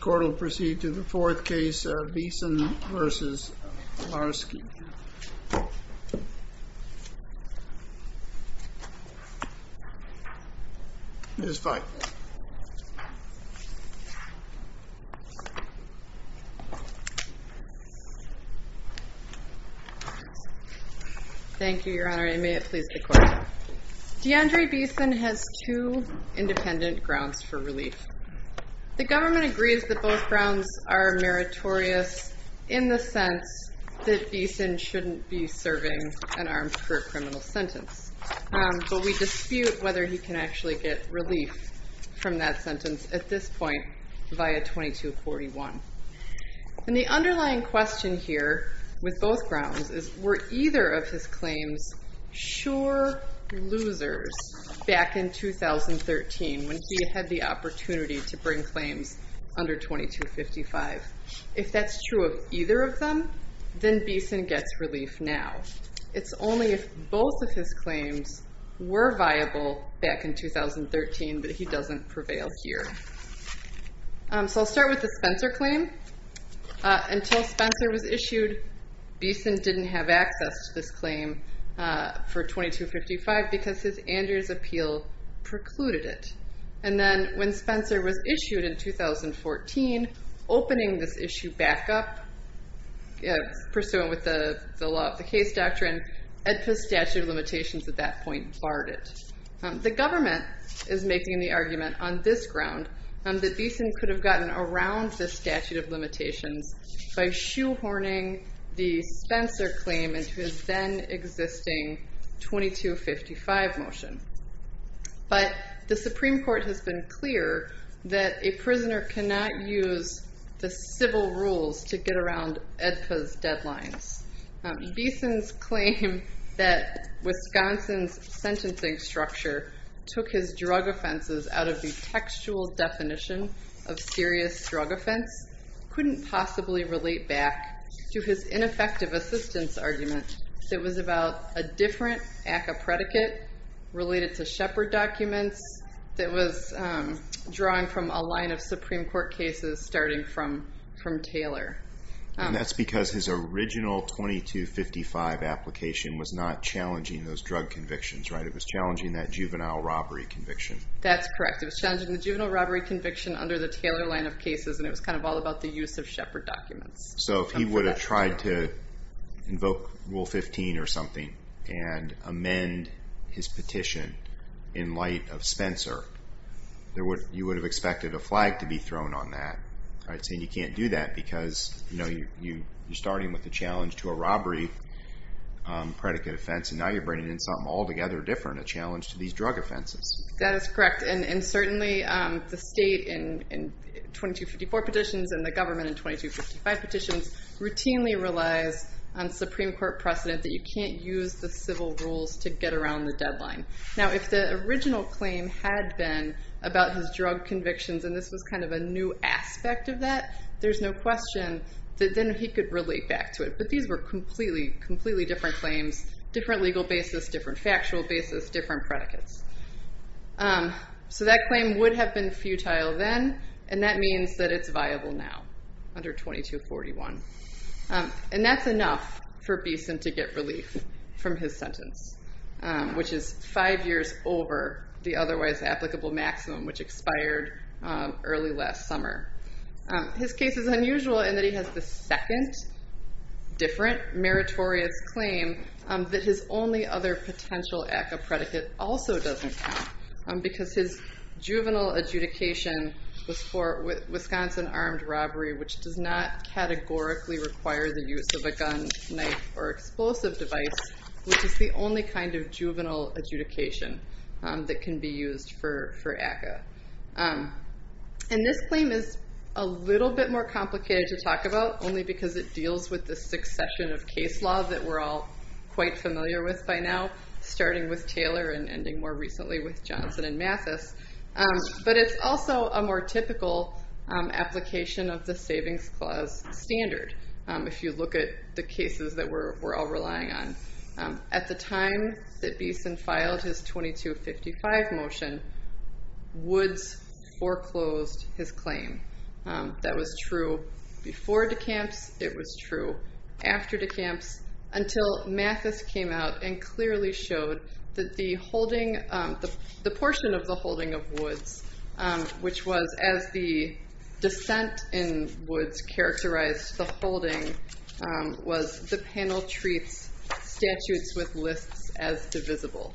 Court will proceed to the fourth case, Beason v. Marske. Deandre Beason has two independent grounds for relief. The government agrees that both grounds are meritorious in the sense that Beason shouldn't be serving an armed criminal sentence, but we dispute whether he can actually get relief from that sentence at this point via 2241. And the underlying question here with both grounds is were either of his claims sure losers back in 2013 when he had the opportunity to bring claims under 2255. If that's true of either of them, then Beason gets relief now. It's only if both of his claims were viable back in 2013 that he doesn't prevail here. So I'll start with the Spencer claim. Until Spencer was issued, Beason didn't have access to this claim for 2255 because his Andrews appeal precluded it. And then when Spencer was issued in 2014, opening this issue back up, pursuant with the law of the case doctrine, AEDPA's statute of limitations at that point barred it. The government is making the argument on this ground that Beason could have gotten around this statute of limitations by shoehorning the Spencer claim into his then existing 2255 motion. But the Supreme Court has been clear that a prisoner cannot use the civil rules to get around AEDPA's deadlines. Beason's claim that Wisconsin's sentencing structure took his drug offenses out of the textual definition of serious drug offense couldn't possibly relate back to his ineffective assistance argument that was about a different ACCA predicate related to Shepard documents that was drawing from a line of Supreme Court cases starting from from Taylor. And that's because his original 2255 application was not challenging those drug convictions, right? It was challenging that juvenile robbery conviction. That's correct. It was challenging the juvenile robbery conviction under the Taylor line of cases and it was kind of all about the use of Shepard documents. So if he would have tried to invoke rule 15 or something and amend his petition in light of Spencer, you would have expected a flag to be thrown on that, right? Saying you can't do that because, you know, you're starting with the challenge to a robbery predicate offense and now you're bringing in something altogether different, a challenge to these drug offenses. That is 2254 petitions and the government in 2255 petitions routinely relies on Supreme Court precedent that you can't use the civil rules to get around the deadline. Now if the original claim had been about his drug convictions and this was kind of a new aspect of that, there's no question that then he could relate back to it. But these were completely, completely different claims, different legal basis, different factual basis, different predicates. So that claim would have been futile then and that means that it's viable now under 2241. And that's enough for Beeson to get relief from his sentence, which is five years over the otherwise applicable maximum which expired early last summer. His case is unusual in that he has the second different meritorious claim that his only other potential ACCA predicate also doesn't count because his juvenile adjudication was for Wisconsin armed robbery, which does not categorically require the use of a gun, knife, or explosive device, which is the only kind of juvenile adjudication that can be used for ACCA. And this claim is a little bit more complicated to talk about only because it deals with the succession of case laws that we're all quite familiar with by now, starting with Taylor and ending more recently with Johnson and Mathis. But it's also a more typical application of the Savings Clause standard, if you look at the cases that we're all relying on. At the time that Beeson filed his 2255 motion, Woods foreclosed his claim. That was true before de Camps, it was true after de Camps, until Mathis came out and clearly showed that the holding, the portion of the holding of Woods, which was as the descent in Woods characterized the holding, was the panel treats statutes with lists as divisible.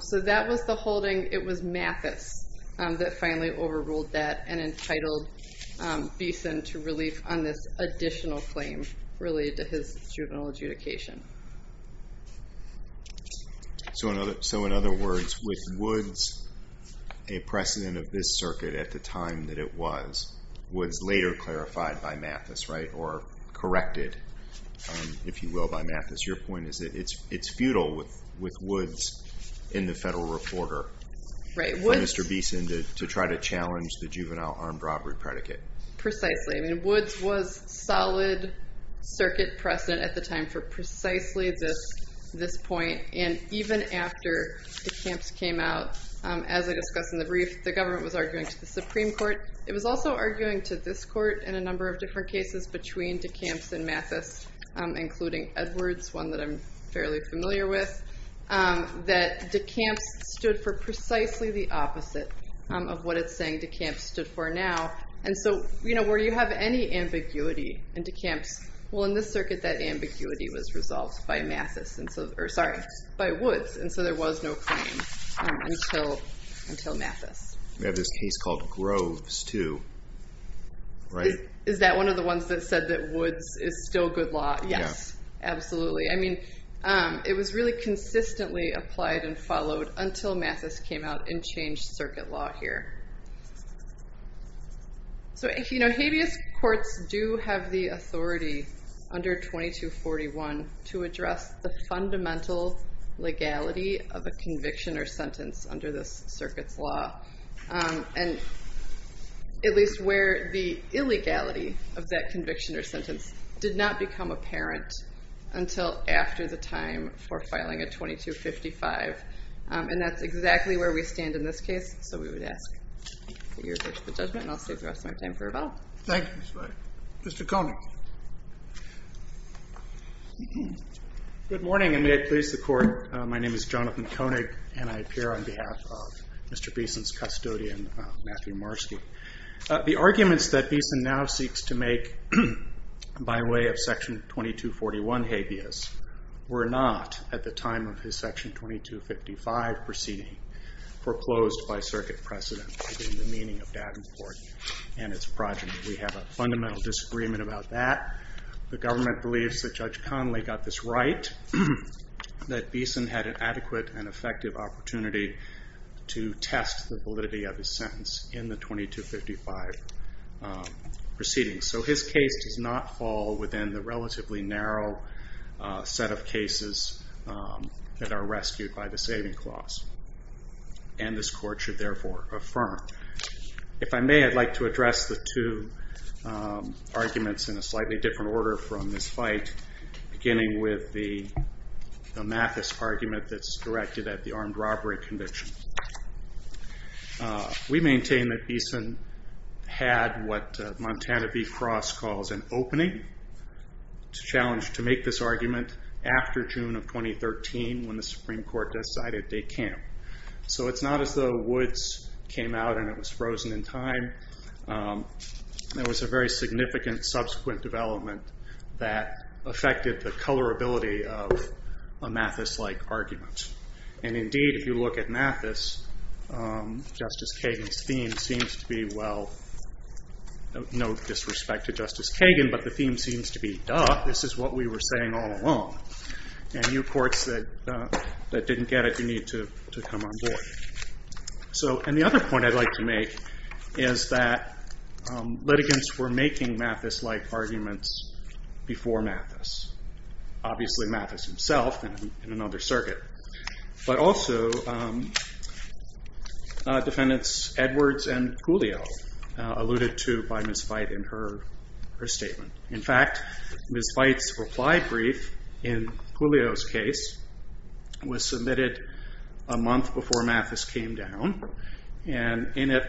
So that was the Mathis that finally overruled that and entitled Beeson to relief on this additional claim related to his juvenile adjudication. So in other words, with Woods, a precedent of this circuit at the time that it was, was later clarified by Mathis, right? Or corrected, if you will, by Mathis. Your point is that it's futile with Woods in the federal recorder. Right. For Mr. Beeson to try to challenge the juvenile armed robbery predicate. Precisely. I mean, Woods was solid circuit precedent at the time for precisely this point. And even after de Camps came out, as I discussed in the brief, the government was arguing to the Supreme Court. It was also arguing to this court in a number of different cases between de Camps and Mathis, including Edwards, one that I'm fairly familiar with, that de Camps stood for precisely the opposite of what it's saying de Camps stood for now. And so, you know, where you have any ambiguity in de Camps, well in this circuit that ambiguity was resolved by Mathis. And so, or sorry, by Woods. And so there was no claim until Mathis. We have this case called Groves too, right? Is that one of the ones that said that Woods is still good law? Yes, absolutely. I mean, it was really consistently applied and followed until Mathis came out and changed circuit law here. So, you know, habeas courts do have the authority under 2241 to address the fundamental legality of a conviction or sentence under this circuit's law. And at least where the illegality of that conviction or sentence did not become apparent until after the time for filing a 2255. And that's exactly where we stand in this case. So we would ask that you refer to the judgment and I'll save the rest of my time for rebuttal. Thank you, Ms. Wright. Mr. Koenig. Good morning and may it please the court. My name is John Koenig and I appear on behalf of Mr. Beeson's custodian, Matthew Marski. The arguments that Beeson now seeks to make by way of section 2241 habeas were not at the time of his section 2255 proceeding foreclosed by circuit precedent in the meaning of Davenport and its progeny. We have a fundamental disagreement about that. The government believes that Judge Conley got this right, that Beeson had an adequate and effective opportunity to test the validity of his sentence in the 2255 proceeding. So his case does not fall within the relatively narrow set of cases that are rescued by the saving clause. And this court should therefore affirm. If I may, I'd like to address the two arguments in a slightly different order from this fight, beginning with the Mathis argument that's directed at the armed robbery conviction. We maintain that Beeson had what Montana v. Cross calls an opening. It's a challenge to make this argument after June of 2013 when the Supreme Court decided they can't. So it's not as though Woods came out and it was frozen in time. There was a very significant subsequent development that affected the colorability of a Mathis-like argument. And indeed if you look at Mathis, Justice Kagan's theme seems to be, well, no disrespect to Justice Kagan, but the theme seems to be, duh, this is what we were saying all along. And you courts that didn't get it, you need to come on board. So and the other point I'd like to make is that litigants were making Mathis-like arguments before Mathis. Obviously Mathis himself in another circuit, but also defendants Edwards and Culio alluded to by Ms. Veit in her statement. In fact, Ms. Veit's reply brief in Culio's case was submitted a month before Mathis came down. And in it,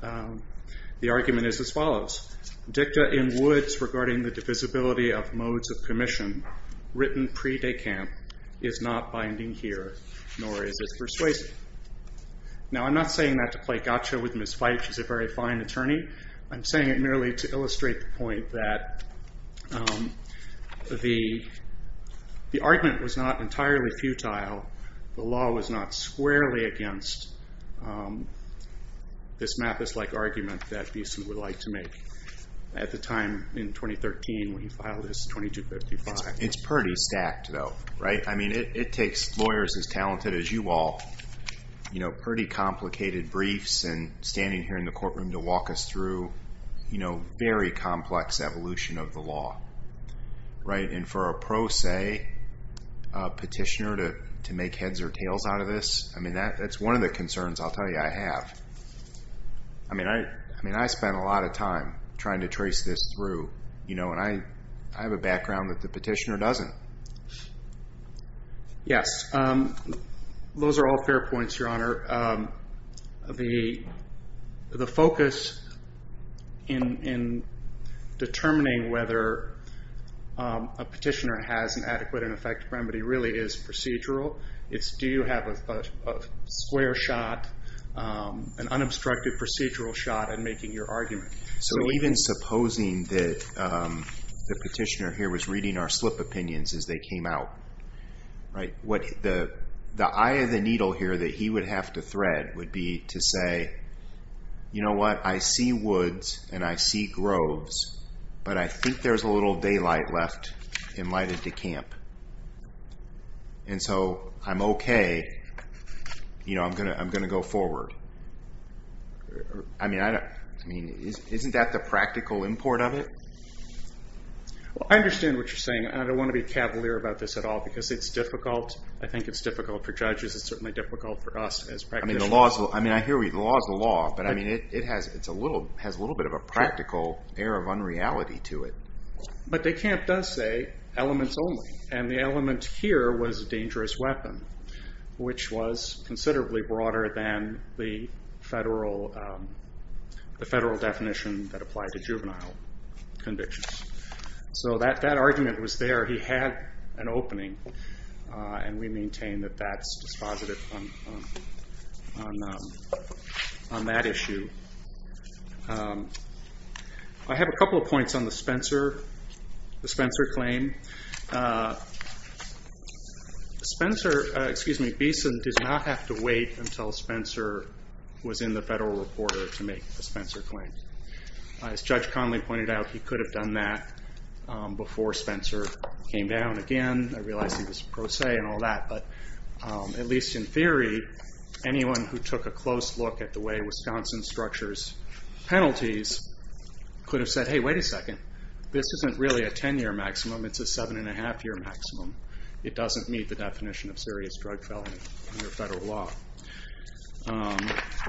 the argument is as follows. Dicta in Woods regarding the divisibility of modes of commission, written pre-decamp, is not binding here, nor is it persuasive. Now I'm not saying that to play gotcha with Ms. Veit, she's a very fine attorney. I'm saying it merely to illustrate the point that the argument was not entirely futile. The law was not squarely against this Mathis-like argument that Beeson would like to make at the time in 2013 when he filed his 2255. It's pretty stacked though, right? I mean it takes lawyers as talented as you all, you know, pretty complicated briefs and standing here in the courtroom to walk us through, you know, very complex evolution of the law, right? And for a pro se petitioner to make heads or tails out of this, I mean that's one of the concerns I'll tell you I have. I mean I spent a lot of time trying to trace this through, you know, and I have a background that the petitioner doesn't. Yes, those are all fair points, Your Honor. The focus in determining whether a petitioner has an adequate and effective remedy really is procedural. It's do you have a square shot, an unobstructed procedural shot at making your argument. So even supposing that the petitioner here was reading our slip opinions as they came out, right? What the eye of the needle here that he would have to thread would be to say, you know what, I see woods and I see groves, but I think there's a little daylight left and lighted to camp. And so I'm okay, you know, I'm going to go forward. I mean, isn't that the practical import of it? Well, I understand what you're saying. I don't want to be cavalier about this at all because it's difficult. I think it's difficult for judges. It's certainly difficult for us as practitioners. I mean, I hear you. The law is the law, but I mean, it has a little bit of a practical air of unreality to it. But de Camp does say elements only, and the element here was a dangerous weapon, which was considerably broader than the federal definition that applied to juvenile convictions. So that argument was there. He had an impact on that issue. I have a couple of points on the Spencer claim. Spencer, excuse me, Beeson, did not have to wait until Spencer was in the federal reporter to make the Spencer claim. As Judge Conley pointed out, he could have done that before Spencer came down again. I realize he was pro se and all that, but at least in theory, anyone who took a close look at the way Wisconsin structures penalties could have said, hey, wait a second. This isn't really a 10-year maximum. It's a seven-and-a-half-year maximum. It doesn't meet the definition of serious drug felony under federal law.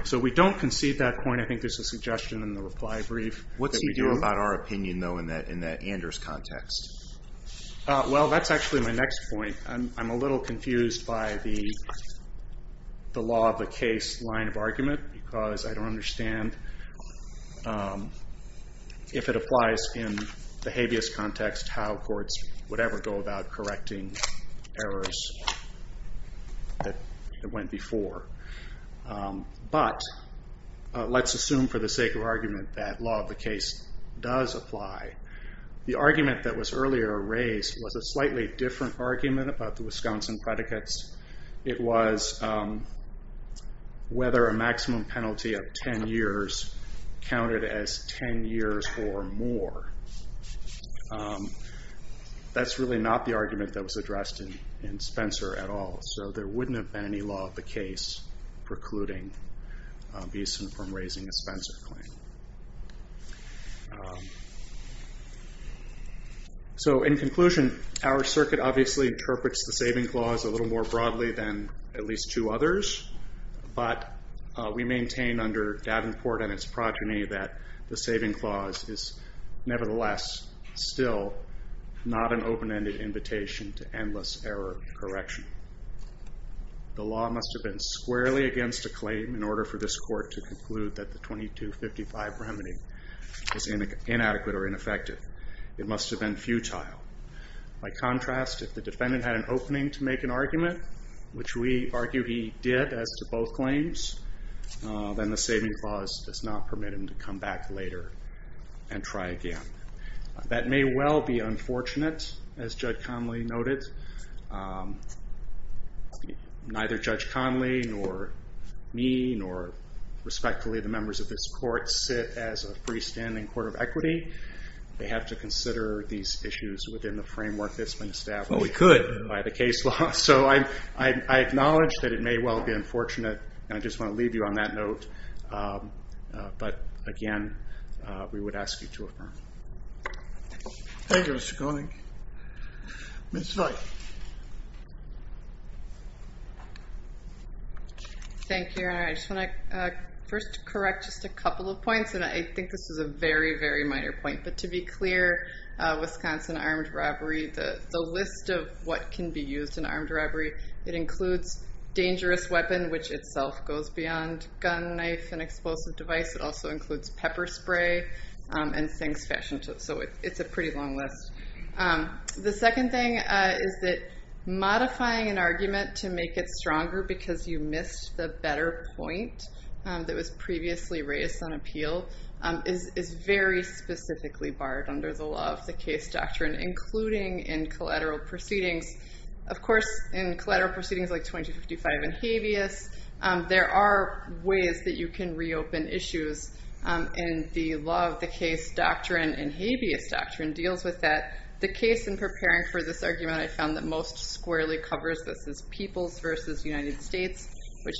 So we don't concede that point. I think there's a suggestion in the reply brief. What's he doing about our opinion, though, in that Anders context? Well, that's actually my next point. I'm a little confused by the law of the case line of argument because I don't understand if it applies in the habeas context how courts would ever go about correcting errors that went before. But let's assume for the sake of argument that law of the case does apply. The argument that was earlier raised was a little different about the Wisconsin predicates. It was whether a maximum penalty of 10 years counted as 10 years or more. That's really not the argument that was addressed in Spencer at all. So there wouldn't have been any law of the case precluding Beeson from raising a Spencer claim. So in conclusion, our opinion is that it supports the saving clause a little more broadly than at least two others, but we maintain under Davenport and its progeny that the saving clause is nevertheless still not an open-ended invitation to endless error correction. The law must have been squarely against a claim in order for this court to conclude that the 2255 remedy is inadequate or ineffective. It must have been futile. By contrast, if the defendant had an opening to make an argument, which we argue he did as to both claims, then the saving clause does not permit him to come back later and try again. That may well be unfortunate as Judge Conley noted. Neither Judge Conley nor me nor respectfully the members of this committee would want to see these issues within the framework that's been established by the case law, so I acknowledge that it may well be unfortunate and I just want to leave you on that note, but again we would ask you to affirm. Thank you, Mr. Conley. Ms. Veit. Thank you, Your Honor. I just want to first correct just a couple of points and I think this is a very, very minor point, but to be clear, Wisconsin armed robbery, the list of what can be used in armed robbery, it includes dangerous weapon, which itself goes beyond gun, knife, and explosive device. It also includes pepper spray and things fashioned, so it's a pretty long list. The second thing is that modifying an argument to make it stronger because you missed the better point that was very specifically barred under the law of the case doctrine, including in collateral proceedings. Of course, in collateral proceedings like 2255 and habeas, there are ways that you can reopen issues and the law of the case doctrine and habeas doctrine deals with that. The case in preparing for this argument, I found that most squarely covers this as people's versus United for,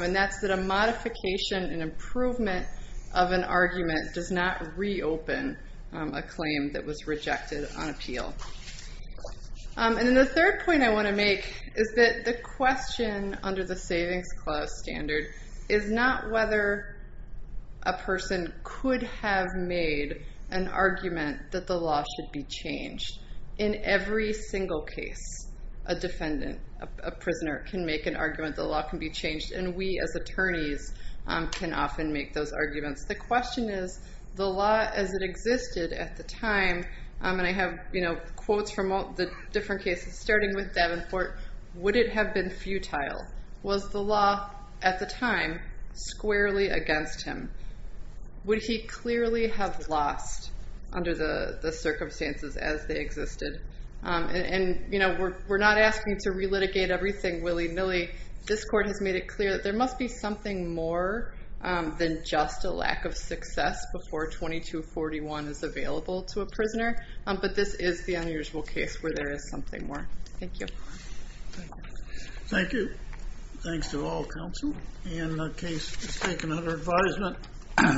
and that's that a modification and improvement of an argument does not reopen a claim that was rejected on appeal. And then the third point I want to make is that the question under the Savings Clause standard is not whether a person could have made an argument that the law should be changed. In every single case, a defendant, a prisoner can make an argument the law can be changed, and we as attorneys can often make those arguments. The question is, the law as it existed at the time, and I have quotes from all the different cases, starting with Davenport, would it have been futile? Was the law at the time squarely against him? Would he clearly have lost under the circumstances as they existed? And, you know, we're not asking to re-litigate everything willy-nilly. This court has made it clear that there must be something more than just a lack of success before 2241 is available to a prisoner, but this is the unusual case where there is something more. Thank you. Thank you. Thanks to all counsel and the panel.